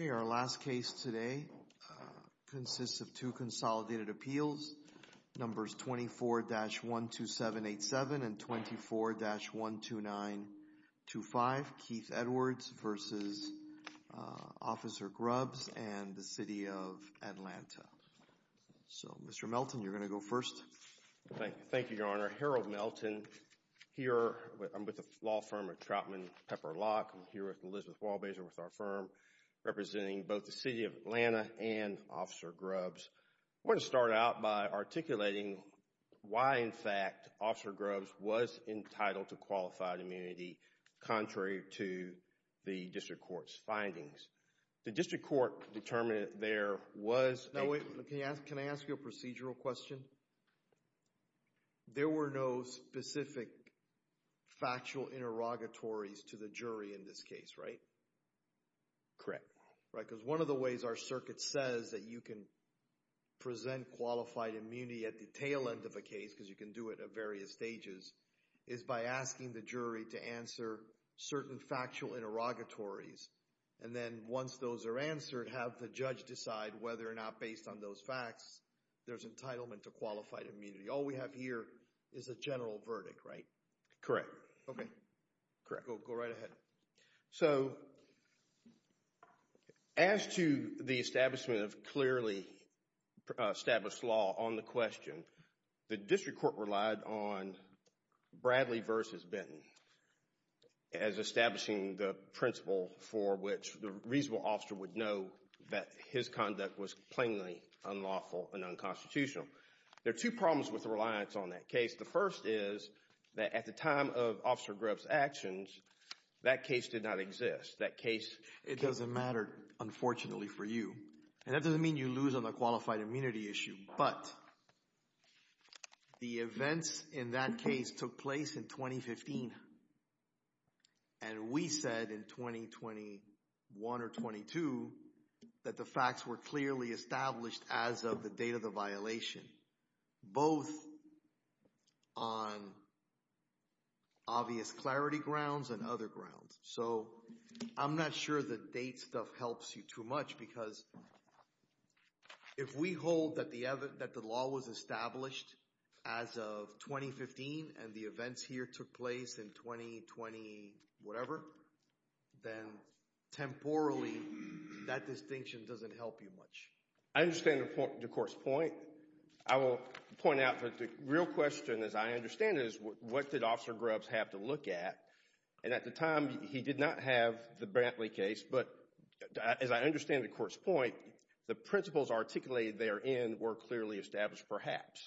Okay, our last case today consists of a two consolidated appeals, numbers 24-12787 and 24-12925, Keith Edwards v. Officer Grubbs and the City of Atlanta. So, Mr. Melton, you're going to go first. Thank you, Your Honor. Harold Melton here. I'm with the law firm of Troutman Pepper Lock. I'm here with Elizabeth Walbazer with our firm representing both the City of Atlanta and Officer Grubbs. I want to start out by articulating why, in fact, Officer Grubbs was entitled to qualified immunity contrary to the District Court's findings. The District Court determined there was... Now, wait. Can I ask you a procedural question? There were no specific factual interrogatories to the jury in this case, right? Correct. Right, because one of the ways our circuit says that you can present qualified immunity at the tail end of a case, because you can do it at various stages, is by asking the jury to answer certain factual interrogatories. And then once those are answered, have the judge decide whether or not, based on those facts, there's entitlement to qualified immunity. All we have here is a general verdict, right? Correct. Okay. Correct. We'll go right ahead. So, as to the establishment of clearly established law on the question, the District Court relied on Bradley v. Benton as establishing the principle for which the reasonable officer would know that his conduct was plainly unlawful and unconstitutional. There are two problems with the reliance on that case. The first is that at the time of Officer Grubbs' actions, that case did not exist. That case... It doesn't matter, unfortunately, for you. And that doesn't mean you lose on the qualified immunity issue, but the events in that case took place in 2015. And we said in 2021 or 22 that the facts were clearly established as of the date of the violation, both on obvious clarity grounds and other grounds. So, I'm not sure the date stuff helps you too much, because if we hold that the law was established as of 2015 and the events here took place in 2020 whatever, then temporally that distinction doesn't help you much. I understand the Court's point. I will point out that the real question, as I understand it, is what did Officer Grubbs have to look at? And at the time, he did not have the Brantley case, but as I understand the Court's point, the principles articulated therein were clearly established perhaps.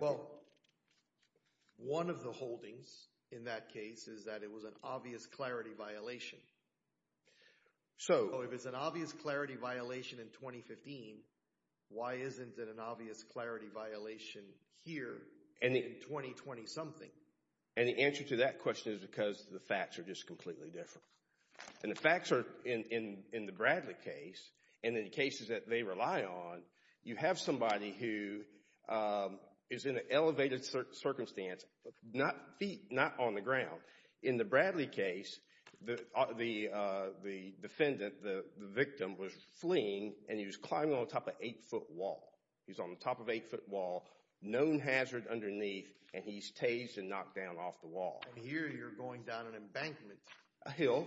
Well, one of the holdings in that case is that it was an obvious clarity violation. So, if it's an obvious clarity violation in 2015, why isn't it an obvious clarity violation here in 2020 something? And the answer to that question is because the facts are just completely different. And the facts are in the Brantley case, and in the cases that they rely on, you have somebody who is in an elevated circumstance, feet not on the ground. In the Brantley case, the defendant, the victim, was fleeing and he was climbing on top of an eight-foot wall. He's on the top of an eight-foot wall, known hazard underneath, and he's tased and knocked down off the wall. And here you're going down an embankment. A hill.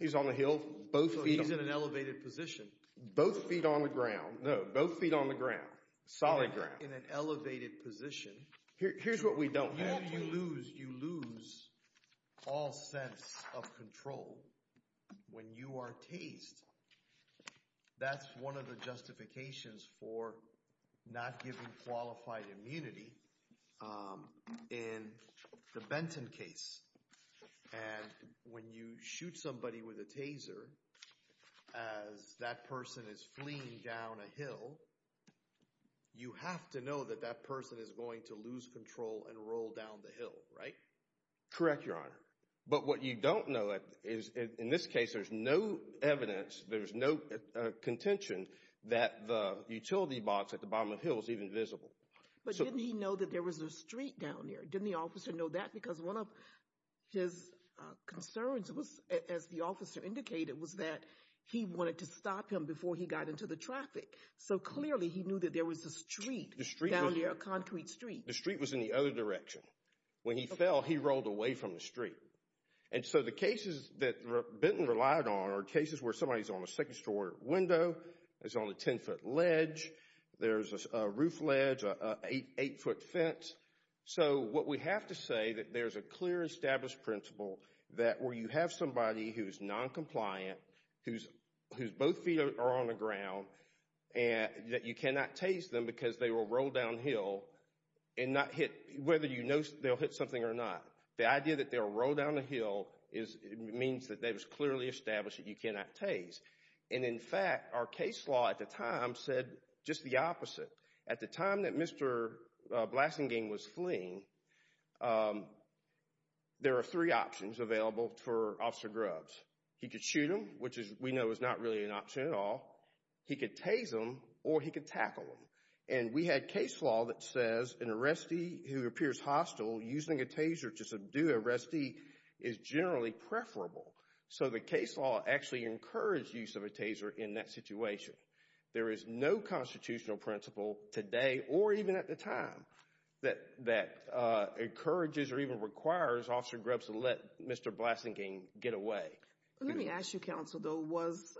He's on the hill. Both feet. So, he's in an elevated position. Both feet on the ground. No, both feet on the ground. Solid ground. In an elevated position. Here's what we don't have. You lose all sense of control when you are tased. That's one of the justifications for not giving qualified immunity in the Benton case. And when you shoot somebody with a taser as that person is fleeing down a hill, you have to know that that person is going to lose control and roll down the hill, right? Correct, Your Honor. But what you don't know is, in this case, there's no evidence, there's no contention that the utility box at the bottom of the hill is even visible. But didn't he know that there was a street down there? Didn't the officer know that? Because one of his concerns was, as the officer indicated, was that he wanted to stop him before he got into the traffic. So, clearly, he knew that there was a street down there, a concrete street. The street was in the other direction. When he fell, he rolled away from the street. And so, the cases that Benton relied on are cases where somebody's on a second-story window, is on a 10-foot ledge, there's a roof ledge, an 8-foot fence. So, what we have to say, that there's a clear established principle that where you have somebody who's non-compliant, whose both feet are on the ground, and that you cannot tase them because they will roll downhill and not hit, whether you know they'll hit something or not. The idea that they'll roll down the hill means that it was clearly established that you cannot tase. And, in fact, our case law at the time said just the opposite. At the time that Mr. Blassingame was fleeing, there are three options available for Officer Grubbs. He could shoot him, which we know is not really an option at all. He could tase him, or he could tackle him. And we had case law that says an arrestee who appears hostile, using a taser to subdue an arrestee, is generally preferable. So, the case law actually encouraged use of a taser in that situation. There is no constitutional principle today, or even at the time, that encourages or even requires Officer Grubbs to let Mr. Blassingame get away. Let me ask you, counsel, though, was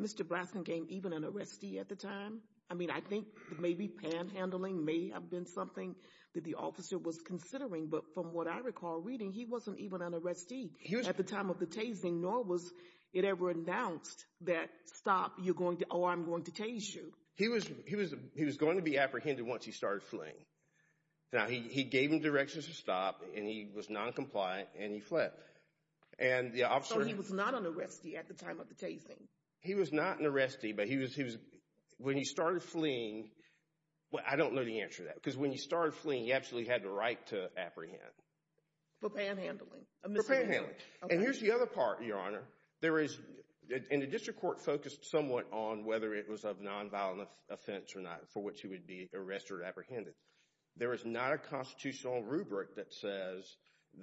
Mr. Blassingame even an arrestee at the time? I mean, I think maybe panhandling may have been something that the officer was considering, but from what I recall reading, he wasn't even an arrestee at the time of the tasing, nor was it ever announced that, stop, you're going to, oh, I'm going to tase you. He was going to be apprehended once he started fleeing. Now, he gave him directions to stop, and he was non-compliant, and he fled. So, he was not an arrestee at the time of the tasing? He was not an arrestee, but he was, when he started fleeing, well, I don't know the answer to that, because when he started fleeing, he absolutely had the right to apprehend. For panhandling? For panhandling. And here's the other part, Your Honor. There is, and the district court focused somewhat on whether it was of non-violent offense or not, for which he would be arrested or apprehended. There is not a constitutional rubric that says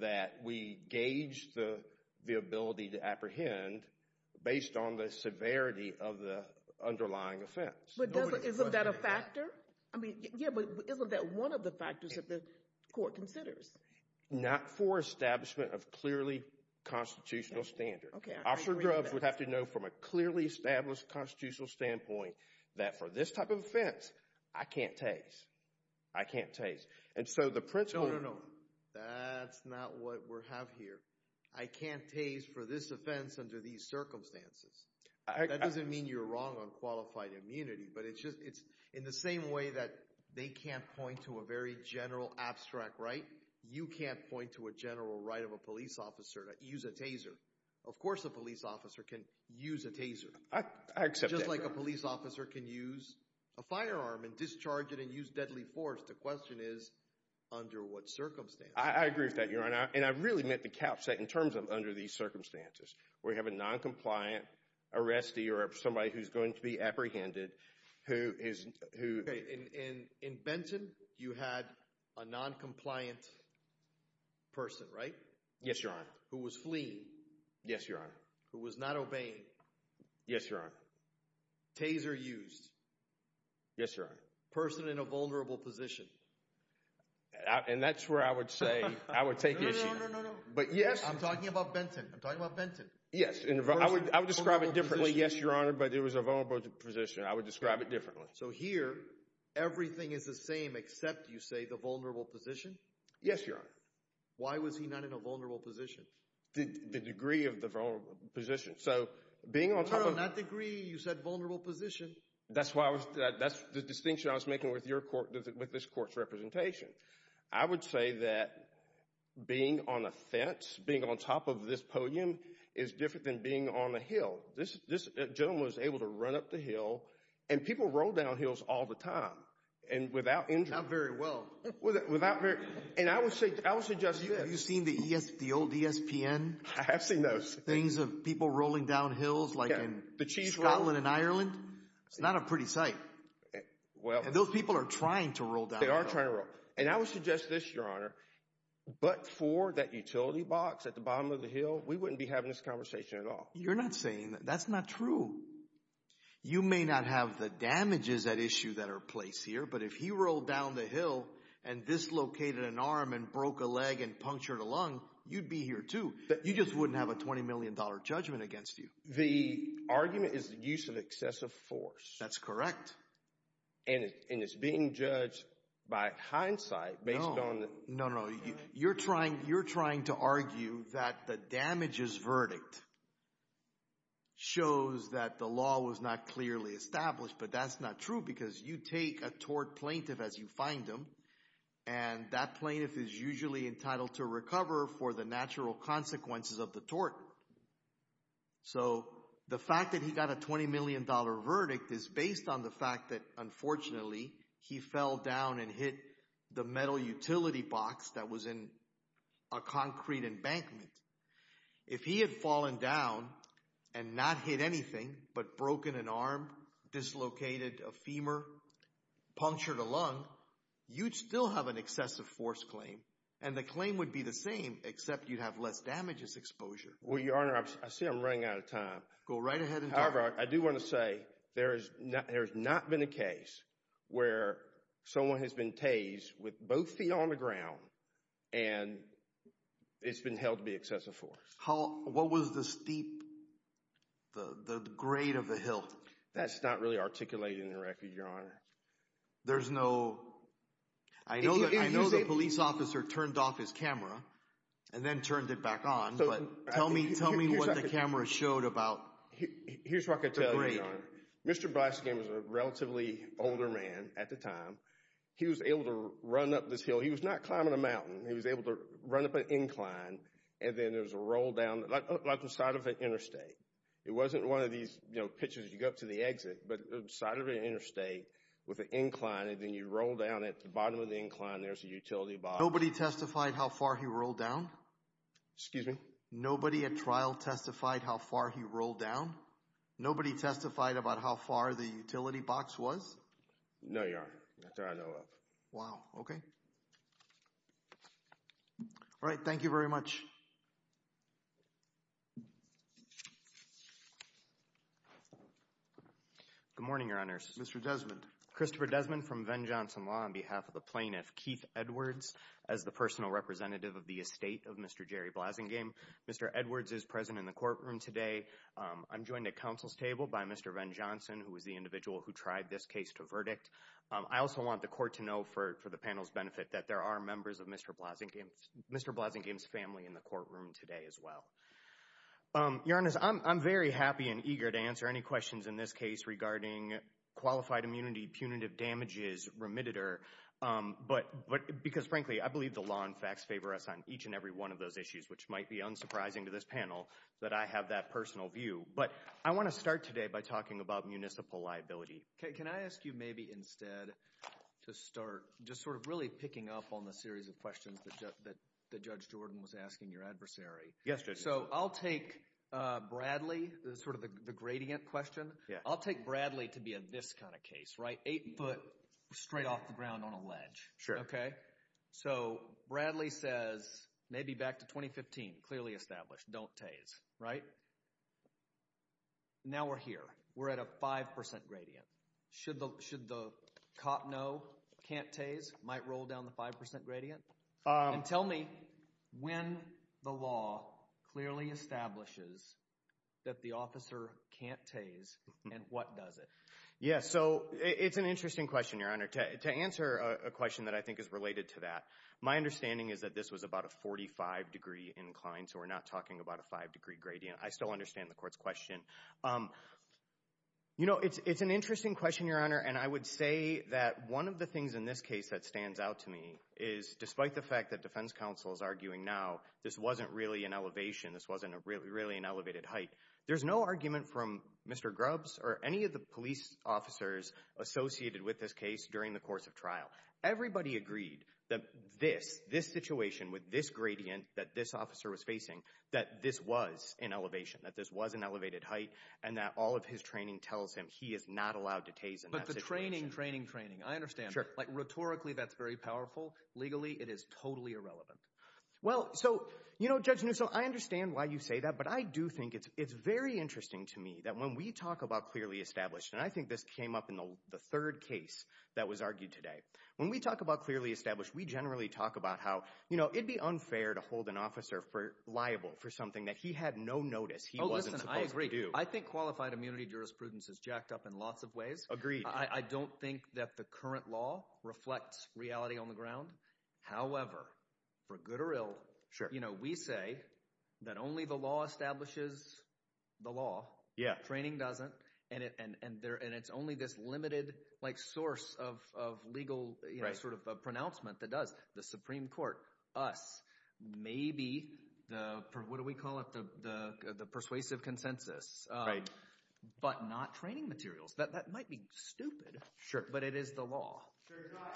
that we gauge the ability to apprehend based on the severity of the underlying offense. But doesn't, isn't that a factor? I mean, yeah, but isn't that one of the factors that the court considers? Not for establishment of clearly constitutional standard. Okay, I agree with that. Officer Grubbs would have to know from a clearly established constitutional standpoint that for this type of offense, I can't tase. I can't tase. And so, the principle... No, no, no. That's not what we have here. I can't tase for this offense under these circumstances. That doesn't mean you're wrong on qualified immunity, but it's just, it's in the same way that they can't point to a very general abstract right. You can't point to a general right of a police officer to use a taser. Of course, a police officer can use a taser. I accept that. Just like a police officer can use a firearm and discharge it and use deadly force. The question is, under what circumstances? I agree with that, Your Honor. And I really meant the cap set in terms of under these circumstances, where you have a noncompliant arrestee or somebody who's going to be apprehended, who is, who... Okay, in Benton, you had a noncompliant person, right? Yes, Your Honor. Who was fleeing? Yes, Your Honor. Who was not obeying? Yes, Your Honor. Taser used? Yes, Your Honor. Person in a vulnerable position? And that's where I would say, I would take issue. No, no, no, no, no, no. But yes. I'm talking about Benton. I'm talking about Benton. Yes. I would describe it differently. Yes, Your Honor, but it was a vulnerable position. I would describe it differently. So here, everything is the same except, you say, the vulnerable position? Yes, Your Honor. Why was he not in a vulnerable position? The degree of the vulnerable position. So being on top of... No, no, not degree. You said vulnerable position. That's why I was, that's the distinction I was making with your court, with this court's representation. I would say that being on a fence, being on top of this podium is different than being on a hill. This gentleman was able to run up the hill, and people roll down hills all the time. And without injury... Not very well. Without very... And I would say, I would suggest this. Have you seen the old ESPN? I have seen those. Things of people rolling down hills, like in Scotland and Ireland. It's not a pretty sight. And those people are trying to roll down the hill. They are trying to roll. And I would suggest this, Your Honor, but for that utility box at the bottom of the hill, we wouldn't be having this conversation at all. You're not saying that. That's not true. You may not have the damages at issue that are placed here, but if he rolled down the hill and dislocated an arm and broke a leg and punctured a lung, you'd be here too. You just wouldn't have a $20 million judgment against you. The argument is the use of excessive force. That's correct. And it's being judged by hindsight based on... No, no, no. You're trying to argue that the damages verdict shows that the law was not clearly established, but that's not true because you take a tort plaintiff as you find them, and that plaintiff is usually entitled to recover for the natural consequences of the tort. So the fact that he got a $20 million verdict is based on the fact that unfortunately he fell down and hit the metal utility box that was in a concrete embankment. If he had fallen down and not hit anything but broken an arm, dislocated a femur, punctured a lung, you'd still have an excessive force claim. And the claim would be the same except you'd have less damages exposure. Well, Your Honor, I see I'm running out of time. Go right ahead and talk. However, I do want to say there has not been a case where someone has been tased with both feet on the ground and it's been held to be excessive force. What was the steep, the grade of the hill? That's not really articulated in the record, Your Honor. There's no... I know the police officer turned off his camera and then turned it back on, but tell me what the camera showed about the grade. Here's what I can tell you, Your Honor. Mr. Byske was a relatively older man at the time. He was able to run up this hill. He was not climbing a mountain. He was able to run up an incline and then there was a roll down, like the side of an interstate. It wasn't one of these pitches you go up to the exit, but the side of an interstate with an incline and then you roll down. At the bottom of the incline, there's a utility box. Nobody testified how far he rolled down? Excuse me? Nobody at trial testified how far he rolled down? Nobody testified about how far the utility box was? No, Your Honor. That's all I know of. Wow. Okay. All right. Thank you very much. Good morning, Your Honors. Mr. Desmond. Christopher Desmond from Venn-Johnson Law on behalf of the plaintiff, Keith Edwards, as the personal representative of the estate of Mr. Jerry Blazingame. Mr. Edwards is present in the courtroom today. I'm joined at counsel's table by Mr. Venn-Johnson, who was the individual who tried this case to verdict. I also want the court to know for the panel's benefit that there are members of Mr. Blazingame's family in the courtroom today as well. Your Honor, I'm very happy and eager to answer any questions in this case regarding qualified immunity, punitive damages, remitter, because frankly, I believe the law and facts favor us on each and every one of those issues, which might be unsurprising to this panel that I have that personal view. But I want to start today by talking about municipal liability. Can I ask you maybe instead to start just sort of really picking up on the series of questions that Judge Jordan was asking your adversary? Yes, Judge. So I'll take Bradley, sort of the gradient question. I'll take Bradley to be in this kind of case, right? Eight foot straight off the ground on a ledge. Okay. So Bradley says, maybe back to 2015, clearly established, don't tase, right? Now we're here. We're at a 5% gradient. Should the cop know, can't tase, might roll down the 5% gradient? And tell me when the law clearly establishes that the officer can't tase and what does it? Yeah. So it's an interesting question, Your Honor. To answer a question that I think is related to that, my understanding is that this was about a 45 degree incline, so we're not talking about a five degree gradient. I still understand the court's question. You know, it's an interesting question, Your Honor, and I would say that one of the things in this case that stands out to me is, despite the fact that defense counsel is arguing now this wasn't really an elevation, this wasn't really an elevated height, there's no argument from Mr. Grubbs or any of the police officers associated with this case during the course of trial. Everybody agreed that this, this situation with this gradient that this officer was facing, that this was an elevation, that this was an elevated height, and that all of his training tells him he is not allowed to tase in that situation. But the training, training, training. I understand, like rhetorically that's very powerful. Legally, it is totally irrelevant. Well, so, you know, Judge Nusselt, I understand why you say that, but I do think it's, it's very interesting to me that when we talk about clearly established, and I think this came up in the third case that was argued today. When we talk about clearly established, we generally talk about how, you know, it'd be unfair to hold an officer liable for something that he had no notice he wasn't supposed to do. I think qualified immunity jurisprudence is jacked up in lots of ways. Agreed. I don't think that the current law reflects reality on the ground. However, for good or ill, you know, we say that only the law establishes the law. Training doesn't. And it, and, and there, and it's only this limited, like, source of, of legal, you know, sort of pronouncement that does. The Supreme Court, us, maybe the, what do we call it? The, the, the persuasive consensus. Right. But not training materials. That might be stupid. But it is the law.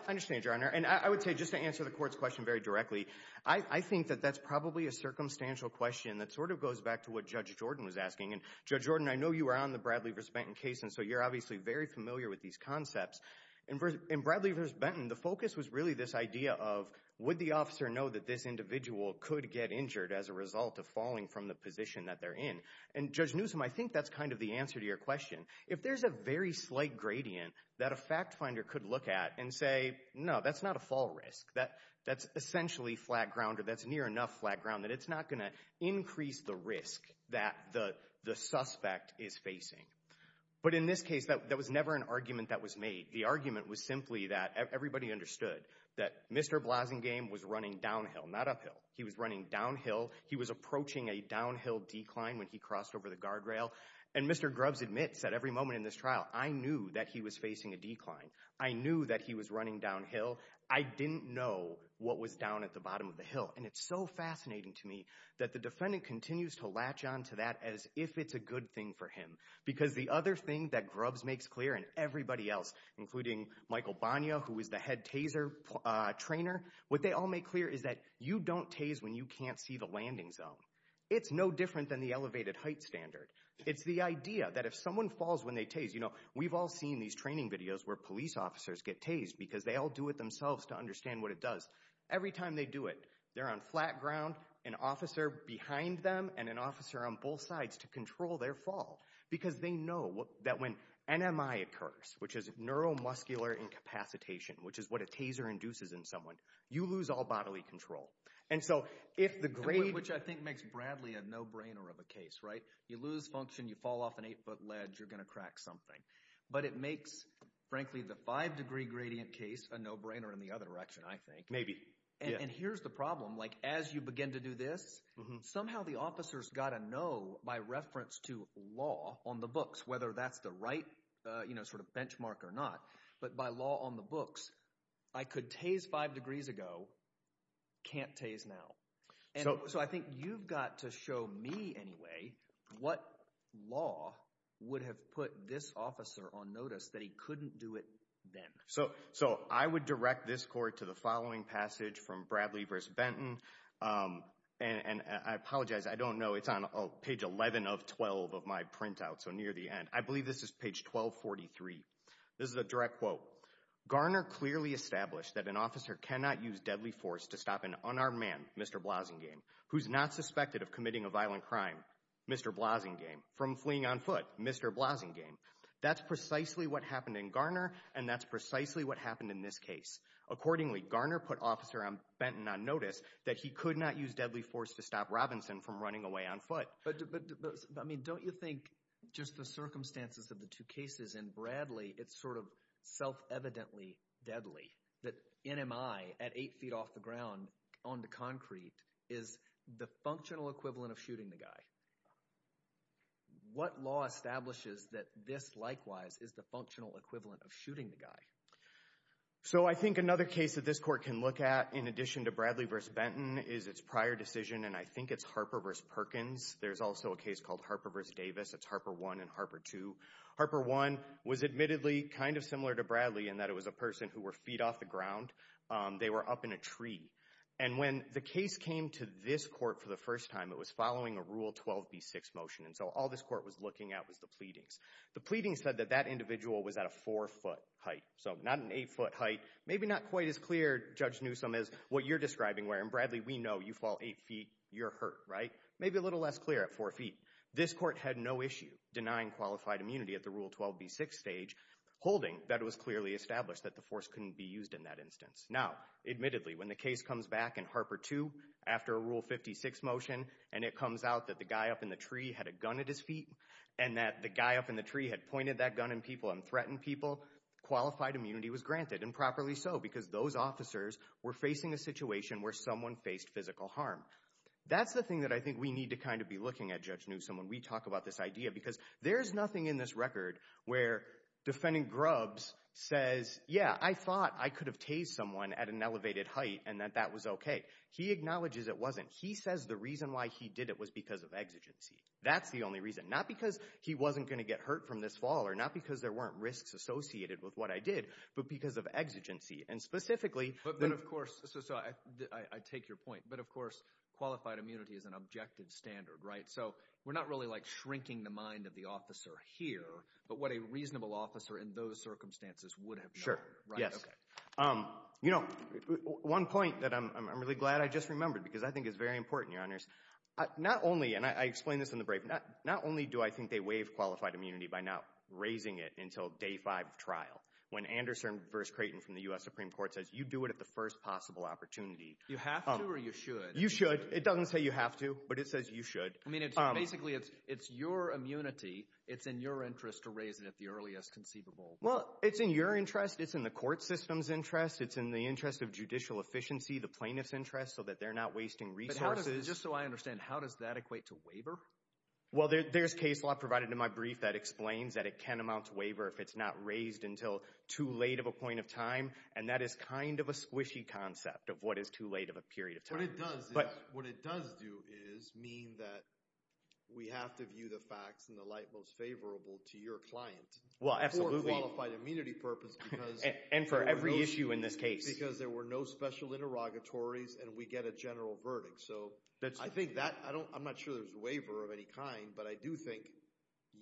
I understand, Your Honor. And I would say, just to answer the court's question very directly, I, I think that that's probably a circumstantial question that sort of goes back to what Judge Jordan was asking. And Judge Jordan, I know you were on the Bradley vs. Benton case, and so you're obviously very familiar with these concepts. And for, in Bradley vs. Benton, the focus was really this idea of, would the officer know that this individual could get injured as a result of falling from the position that they're in? And Judge Newsom, I think that's kind of the answer to your question. If there's a very slight gradient that a fact finder could look at and say, no, that's not a fall risk. That, that's essentially flat ground, or that's near enough flat ground that it's not going to increase the risk that the, the suspect is facing. But in this case, that, that was never an argument that was made. The argument was simply that everybody understood that Mr. Blasingame was running downhill, not uphill. He was running downhill. He was approaching a downhill decline when he crossed over the guardrail. And Mr. Grubbs admits at every moment in this trial, I knew that he was facing a decline. I knew that he was running downhill. I didn't know what was down at the bottom of the hill. And it's so fascinating to me that the defendant continues to latch onto that as if it's a good thing for him. Because the other thing that Grubbs makes clear, and everybody else, including Michael Bonia, who is the head Taser trainer, what they all make clear is that you don't tase when you can't see the landing zone. It's no different than the elevated height standard. It's the idea that if someone falls when they tase, you know, we've all seen these training videos where police officers get tased because they all do it themselves to understand what it does. Every time they do it, they're on flat ground, an officer behind them, and an officer on both sides to control their fall. Because they know that when NMI occurs, which is neuromuscular incapacitation, which is what a Taser induces in someone, you lose all bodily control. And so if the grade... Which I think makes Bradley a no-brainer of a case, right? You lose function, you fall off an eight-foot ledge, you're going to crack something. But it makes, frankly, the five-degree gradient case a no-brainer in the other direction, I think. Maybe, yeah. And here's the problem. Like, as you begin to do this, somehow the officer's got to know, by reference to law on the books, whether that's the right, you know, sort of benchmark or not. But by law on the books, I could tase five degrees ago, can't tase now. So I think you've got to show me, anyway, what law would have put this officer on notice that he couldn't do it then. So I would direct this court to the following passage from Bradley v. Benton. And I apologize, I don't know. It's on page 11 of 12 of my printout, so near the end. I believe this is page 1243. This is a direct quote. Garner clearly established that an officer cannot use deadly force to stop an unarmed man, Mr. Blazingame, who's not suspected of committing a violent crime, Mr. Blazingame, from fleeing on foot, Mr. Blazingame. That's precisely what happened in Garner, and that's precisely what happened in this case. Accordingly, Garner put Officer Benton on notice that he could not use deadly force to stop Robinson from running away on foot. But, I mean, don't you think, just the circumstances of the two cases in Bradley, it's sort of self-evidently deadly that NMI at eight feet off the ground onto concrete is the functional equivalent of shooting the guy? What law establishes that this, likewise, is the functional equivalent of shooting the So I think another case that this court can look at, in addition to Bradley v. Benton, is its prior decision, and I think it's Harper v. Perkins. There's also a case called Harper v. Davis. It's Harper 1 and Harper 2. Harper 1 was admittedly kind of similar to Bradley in that it was a person who were feet off the ground. They were up in a tree. And when the case came to this court for the first time, it was following a Rule 12b6 motion, and so all this court was looking at was the pleadings. The pleadings said that that individual was at a four-foot height, so not an eight-foot height. Maybe not quite as clear, Judge Newsom, as what you're describing, where in Bradley we know you fall eight feet, you're hurt, right? Maybe a little less clear at four feet. This court had no issue denying qualified immunity at the Rule 12b6 stage, holding that it was clearly established that the force couldn't be used in that instance. Now, admittedly, when the case comes back in Harper 2, after a Rule 56 motion, and it comes out that the guy up in the tree had a gun at his feet, and that the guy up in the tree had pointed that gun at people and threatened people, qualified immunity was granted, and properly so, because those officers were facing a situation where someone faced physical harm. That's the thing that I think we need to kind of be looking at, Judge Newsom, when we talk about this idea, because there's nothing in this record where defendant Grubbs says, yeah, I thought I could have tased someone at an elevated height and that that was okay. He acknowledges it wasn't. He says the reason why he did it was because of exigency. That's the only reason. Not because he wasn't going to get hurt from this fall, or not because there weren't risks associated with what I did, but because of exigency, and specifically— But of course, I take your point, but of course, qualified immunity is an objective standard, right? So, we're not really like shrinking the mind of the officer here, but what a reasonable officer in those circumstances would have done. Sure, yes. You know, one point that I'm really glad I just remembered, because I think it's very important, Your Honors. Not only, and I explained this in the briefing, not only do I think they waive qualified immunity by not raising it until day five of trial, when Anderson v. Creighton from the U.S. Supreme Court says, you do it at the first possible opportunity. You have to, or you should? You should. It doesn't say you have to, but it says you should. I mean, basically, it's your immunity. It's in your interest to raise it at the earliest conceivable. Well, it's in your interest. It's in the court system's interest. It's in the interest of judicial efficiency, the plaintiff's interest, so that they're not wasting resources. Just so I understand, how does that equate to waiver? Well, there's case law provided in my brief that explains that it can amount to waiver if it's not raised until too late of a point of time, and that is kind of a squishy concept of what is too late of a period of time. What it does is, what it does do is mean that we have to view the facts in the light most favorable to your client. Well, absolutely. For a qualified immunity purpose, because- And for every issue in this case. Because there were no special interrogatories, and we get a general verdict. So, I think that, I don't, I'm not sure there's waiver of any kind, but I do think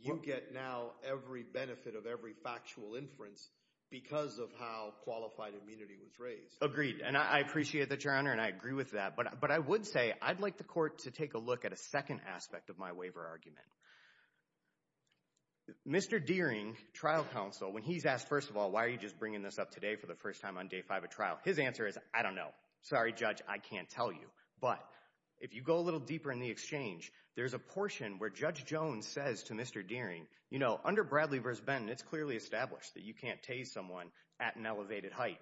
you get now every benefit of every factual inference because of how qualified immunity was raised. And I appreciate that, Your Honor, and I agree with that. But I would say, I'd like the court to take a look at a second aspect of my waiver argument. Mr. Deering, trial counsel, when he's asked, first of all, why are you just bringing this up today for the first time on day five of trial, his answer is, I don't know. Sorry, Judge, I can't tell you. But, if you go a little deeper in the exchange, there's a portion where Judge Jones says to Mr. Deering, you know, under Bradley v. Benton, it's clearly established that you can't tase someone at an elevated height.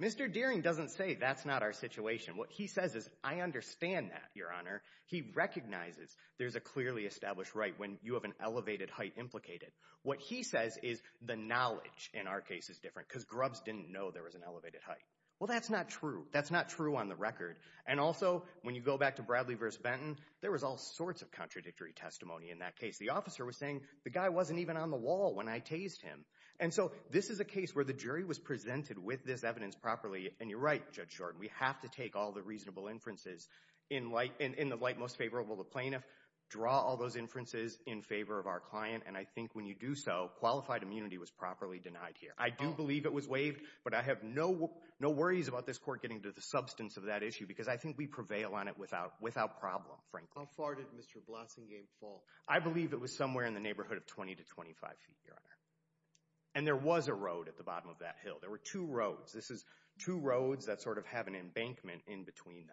Mr. Deering doesn't say that's not our situation. What he says is, I understand that, Your Honor. He recognizes there's a clearly established right when you have an elevated height implicated. What he says is the knowledge in our case is different because Grubbs didn't know there was an elevated height. Well, that's not true. That's not true on the record. And also, when you go back to Bradley v. Benton, there was all sorts of contradictory testimony in that case. The officer was saying, the guy wasn't even on the wall when I tased him. And so, this is a case where the jury was presented with this evidence properly, and you're right, Judge Shorten, we have to take all the reasonable inferences in the light most favorable to the plaintiff, draw all those inferences in favor of our client, and I think when you do so, qualified immunity was properly denied here. I do believe it was waived, but I have no worries about this court getting to the substance of that issue because I think we prevail on it without problem, frankly. How far did Mr. Blasingame fall? I believe it was somewhere in the neighborhood of 20 to 25 feet, Your Honor, and there was a road at the bottom of that hill. There were two roads. This is two roads that sort of have an embankment in between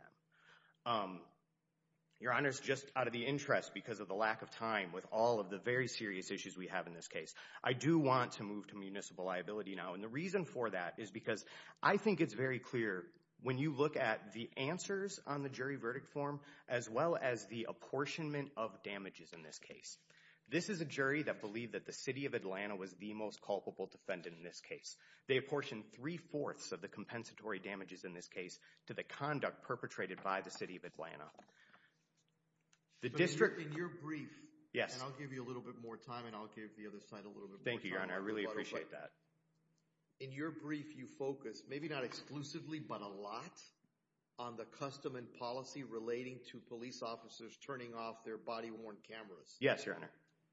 them. Your Honor, it's just out of the interest because of the lack of time with all of the very serious issues we have in this case. I do want to move to municipal liability now, and the reason for that is because I think it's very clear when you look at the answers on the jury verdict form as well as the apportionment of damages in this case. This is a jury that believed that the City of Atlanta was the most culpable defendant in this case. They apportioned three-fourths of the compensatory damages in this case to the conduct perpetrated by the City of Atlanta. The district— In your brief— Yes. And I'll give you a little bit more time, and I'll give the other side a little bit more time. Thank you, Your Honor. I really appreciate that. In your brief, you focus, maybe not exclusively but a lot, on the custom and policy relating to police officers turning off their body-worn cameras. Yes, Your Honor.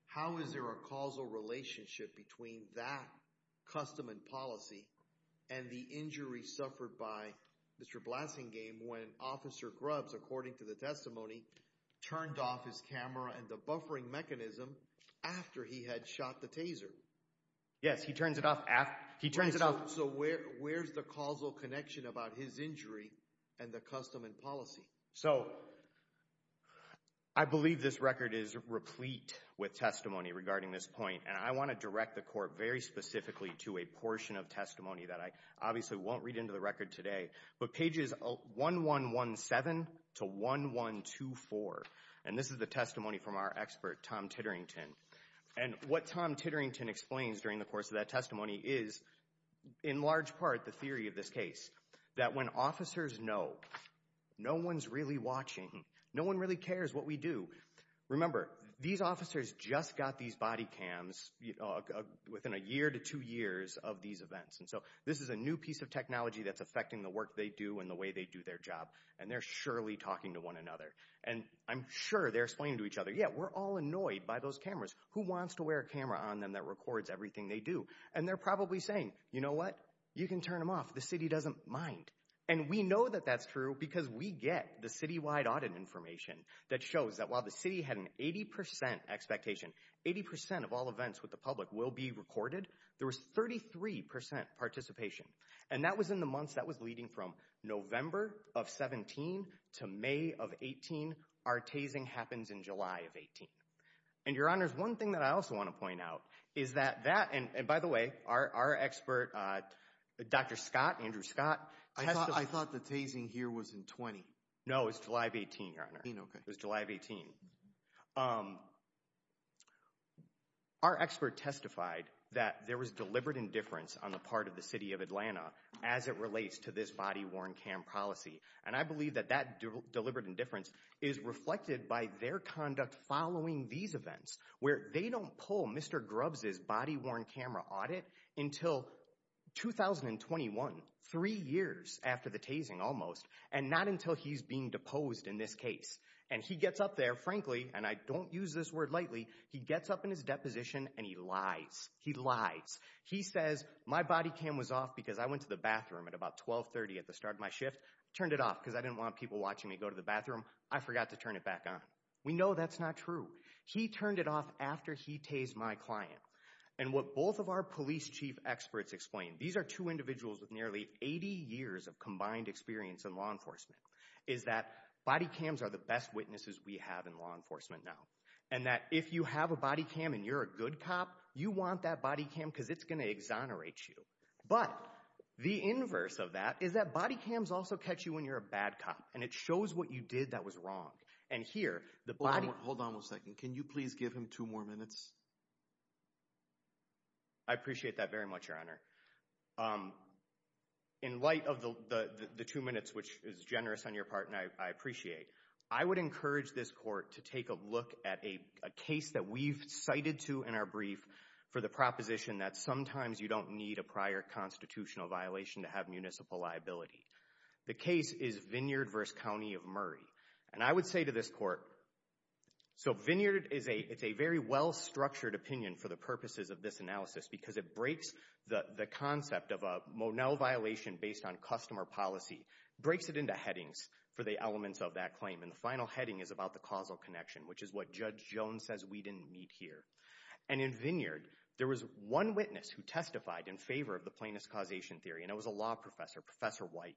How is there a causal relationship between that custom and policy and the injury suffered by Mr. Blasingame when Officer Grubbs, according to the testimony, turned off his camera and the buffering mechanism after he had shot the taser? Yes, he turns it off after— He turns it off— So where's the causal connection about his injury and the custom and policy? So, I believe this record is replete with testimony regarding this point, and I want to direct the Court very specifically to a portion of testimony that I obviously won't read into the record today, but pages 1117 to 1124. And this is the testimony from our expert, Tom Titterington. And what Tom Titterington explains during the course of that testimony is, in large part, the theory of this case, that when officers know no one's really watching, no one really cares what we do— Remember, these officers just got these body cams within a year to two years of these events, and so this is a new piece of technology that's affecting the work they do and the way they do their job, and they're surely talking to one another. And I'm sure they're explaining to each other, yeah, we're all annoyed by those cameras. Who wants to wear a camera on them that records everything they do? And they're probably saying, you know what? You can turn them off. The city doesn't mind. And we know that that's true because we get the citywide audit information that shows that while the city had an 80 percent expectation, 80 percent of all events with the public will be recorded, there was 33 percent participation. And that was in the months that was leading from November of 17 to May of 18. Our tasing happens in July of 18. And, Your Honors, one thing that I also want to point out is that— And by the way, our expert, Dr. Scott, Andrew Scott— I thought the tasing here was in 20. No, it was July of 18, Your Honor. Okay. It was July of 18. Our expert testified that there was deliberate indifference on the part of the city of Atlanta as it relates to this body-worn cam policy, and I believe that that deliberate indifference is reflected by their conduct following these events where they don't pull Mr. Grubbs' body-worn camera audit until 2021, three years after the tasing almost, and not until he's being deposed in this case. And he gets up there, frankly, and I don't use this word lightly, he gets up in his deposition and he lies. He lies. He says, my body cam was off because I went to the bathroom at about 12.30 at the start of my shift, turned it off because I didn't want people watching me go to the bathroom. I forgot to turn it back on. We know that's not true. He turned it off after he tased my client. And what both of our police chief experts explain— these are two individuals with nearly 80 years of combined experience in law enforcement— is that body cams are the best witnesses we have in law enforcement now, and that if you have a body cam and you're a good cop, you want that body cam because it's going to exonerate you. But the inverse of that is that body cams also catch you when you're a bad cop, and it shows what you did that was wrong. And here, the body— Hold on one second. Can you please give him two more minutes? I appreciate that very much, Your Honor. In light of the two minutes, which is generous on your part and I appreciate, I would encourage this court to take a look at a case that we've cited to in our brief for the proposition that sometimes you don't need a prior constitutional violation to have municipal liability. The case is Vineyard v. County of Murray. And I would say to this court— so Vineyard is a very well-structured opinion for the purposes of this analysis because it breaks the concept of a Monell violation based on customer policy, breaks it into headings for the elements of that claim, and the final heading is about the causal connection, which is what Judge Jones says we didn't meet here. And in Vineyard, there was one witness who testified in favor of the plaintiff's causation theory, and it was a law professor, Professor White.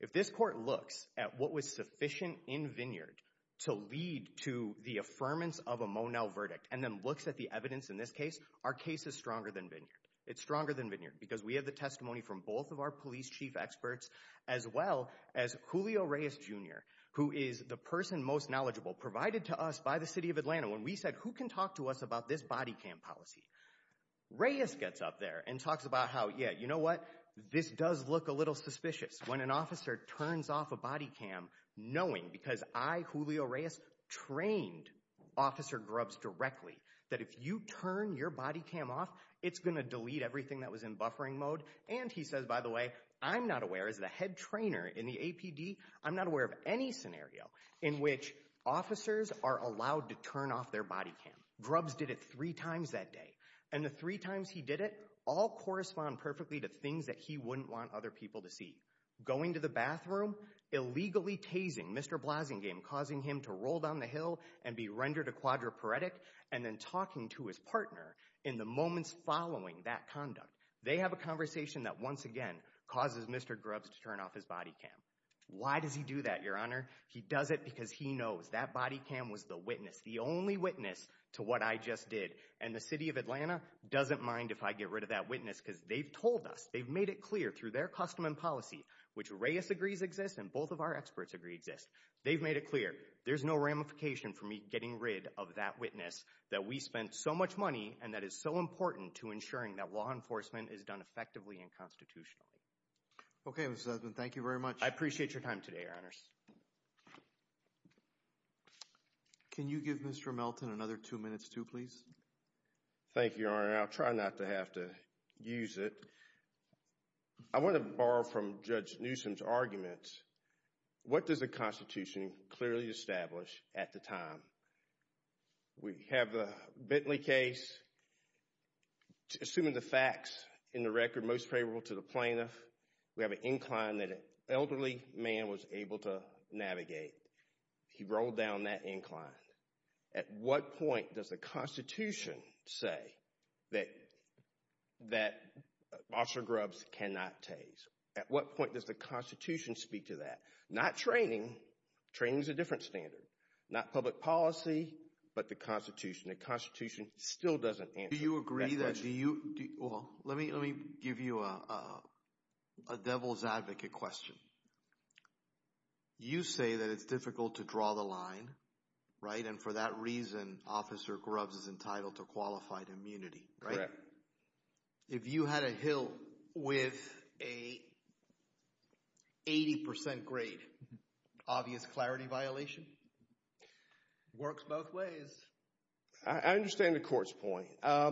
If this court looks at what was sufficient in Vineyard to lead to the affirmance of a Monell verdict and then looks at the evidence in this case, our case is stronger than Vineyard. It's stronger than Vineyard because we have the testimony from both of our police chief experts as well as Julio Reyes, Jr., who is the person most knowledgeable provided to us by the City of Atlanta when we said, who can talk to us about this body cam policy? Reyes gets up there and talks about how, yeah, you know what? This does look a little suspicious when an officer turns off a body cam knowing—because I, Julio Reyes, trained Officer Grubbs directly—that if you turn your body cam off, it's going to delete everything that was in buffering mode. And he says, by the way, I'm not aware as the head trainer in the APD, I'm not aware of any scenario in which officers are allowed to turn off their body cam. Grubbs did it three times that day, and the three times he did it all correspond perfectly to things that he wouldn't want other people to see. Going to the bathroom, illegally tasing Mr. Blasingame, causing him to roll down the hill and be rendered a quadriplegic, and then talking to his partner in the moments following that conduct. They have a conversation that, once again, causes Mr. Grubbs to turn off his body cam. Why does he do that, Your Honor? He does it because he knows that body cam was the witness, the only witness, to what I just did. And the City of Atlanta doesn't mind if I get rid of that witness, because they've told us, they've made it clear through their custom and policy, which Reyes agrees exists and both of our experts agree exists. They've made it clear. There's no ramification for me getting rid of that witness that we spent so much money and that is so important to ensuring that law enforcement is done effectively and constitutionally. Okay, Mr. Sussman, thank you very much. I appreciate your time today, Your Honors. Can you give Mr. Melton another two minutes too, please? Thank you, Your Honor. I'll try not to have to use it. I want to borrow from Judge Newsom's arguments. What does the Constitution clearly establish at the time? We have the Bentley case. Assuming the facts in the record most favorable to the plaintiff, we have an incline that elderly man was able to navigate. He rolled down that incline. At what point does the Constitution say that Officer Grubbs cannot tase? At what point does the Constitution speak to that? Not training. Training's a different standard. Not public policy, but the Constitution. The Constitution still doesn't answer that question. Do you agree that, do you, well, let me give you a devil's advocate question. Okay. You say that it's difficult to draw the line, right? And for that reason, Officer Grubbs is entitled to qualified immunity, right? If you had a hill with a 80% grade, obvious clarity violation? Works both ways. I understand the court's point. I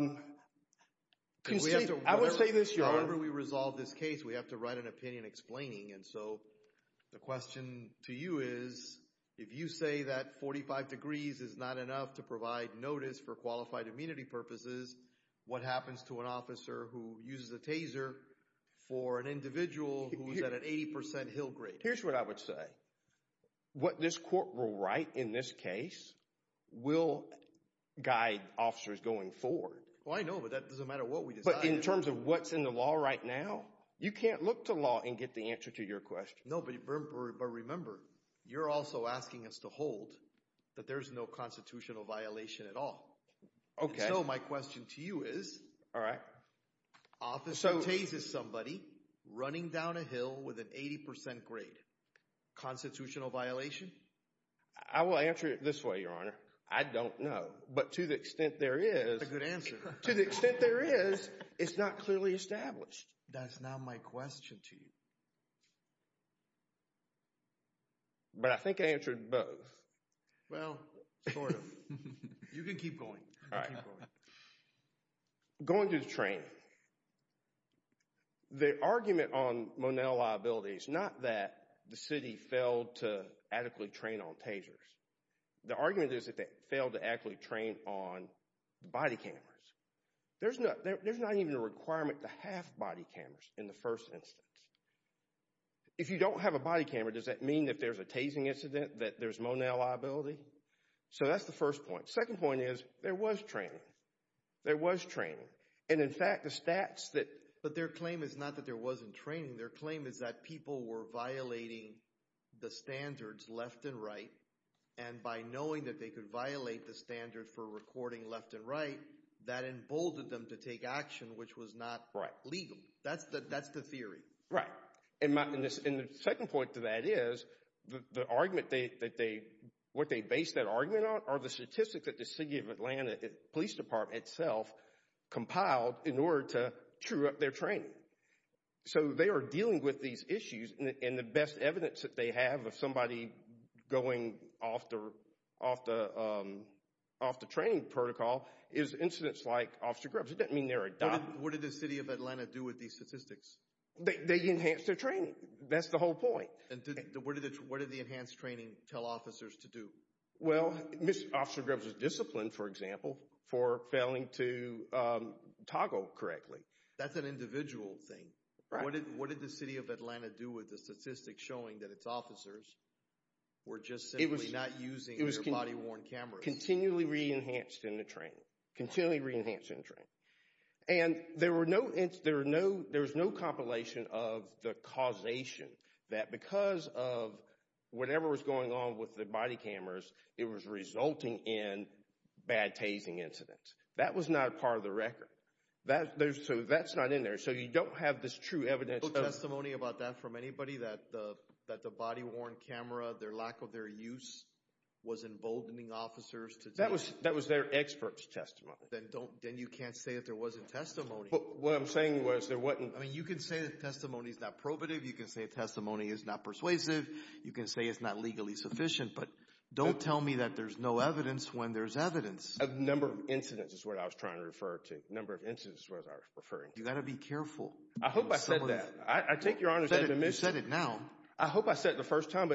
would say this, Your Honor. Whenever we resolve this case, we have to write an opinion explaining. And so the question to you is, if you say that 45 degrees is not enough to provide notice for qualified immunity purposes, what happens to an officer who uses a taser for an individual who's at an 80% hill grade? Here's what I would say. What this court will write in this case will guide officers going forward. Well, I know, but that doesn't matter what we decide. In terms of what's in the law right now, you can't look to law and get the answer to your question. No, but remember, you're also asking us to hold that there's no constitutional violation at all. Okay. So my question to you is, Officer Taze is somebody running down a hill with an 80% grade. Constitutional violation? I will answer it this way, Your Honor. I don't know. But to the extent there is- That's a good answer. To the extent there is, it's not clearly established. That's not my question to you. But I think I answered both. Well, sort of. You can keep going. Going to the training, the argument on Monell liability is not that the city failed to adequately train on tasers. The argument is that they failed to actually train on body cameras. There's not even a requirement to have body cameras in the first instance. If you don't have a body camera, does that mean that there's a Tazing incident, that there's Monell liability? So that's the first point. Second point is, there was training. There was training. And in fact, the stats that- But their claim is not that there wasn't training. Their claim is that people were violating the standards left and right. And by knowing that they could violate the standard for recording left and right, that emboldened them to take action, which was not legal. That's the theory. And the second point to that is, what they base that argument on are the statistics that the City of Atlanta Police Department itself compiled in order to true up their training. So they are dealing with these issues, and the best evidence that they have of somebody going off the training protocol is incidents like Officer Grubbs. It doesn't mean they're adopted. What did the City of Atlanta do with these statistics? They enhanced their training. That's the whole point. What did the enhanced training tell officers to do? Well, Officer Grubbs was disciplined, for example, for failing to toggle correctly. That's an individual thing. What did the City of Atlanta do with the statistics showing that its officers were just simply not using their body-worn cameras? Continually re-enhanced in the training. Continually re-enhanced in the training. And there was no compilation of the causation that because of whatever was going on with the body cameras, it was resulting in bad tasing incidents. That was not a part of the record. So that's not in there. So you don't have this true evidence. No testimony about that from anybody, that the body-worn camera, their lack of their use was emboldening officers to do that? That was their expert's testimony. Then you can't say that there wasn't testimony. But what I'm saying was there wasn't. I mean, you can say that testimony is not probative. You can say testimony is not persuasive. You can say it's not legally sufficient. But don't tell me that there's no evidence when there's evidence. A number of incidents is what I was trying to refer to. A number of incidents was what I was referring to. You've got to be careful. I hope I said that. I take your honor as an admission. You said it now. I hope I said it the first time.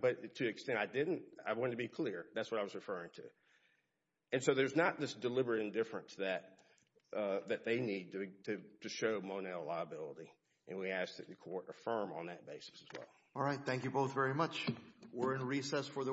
But to the extent I didn't, I wanted to be clear. That's what I was referring to. And so there's not this deliberate indifference that they need to show Monel a liability. And we ask that the court affirm on that basis as well. All right. Thank you both very much. We're in recess for the week.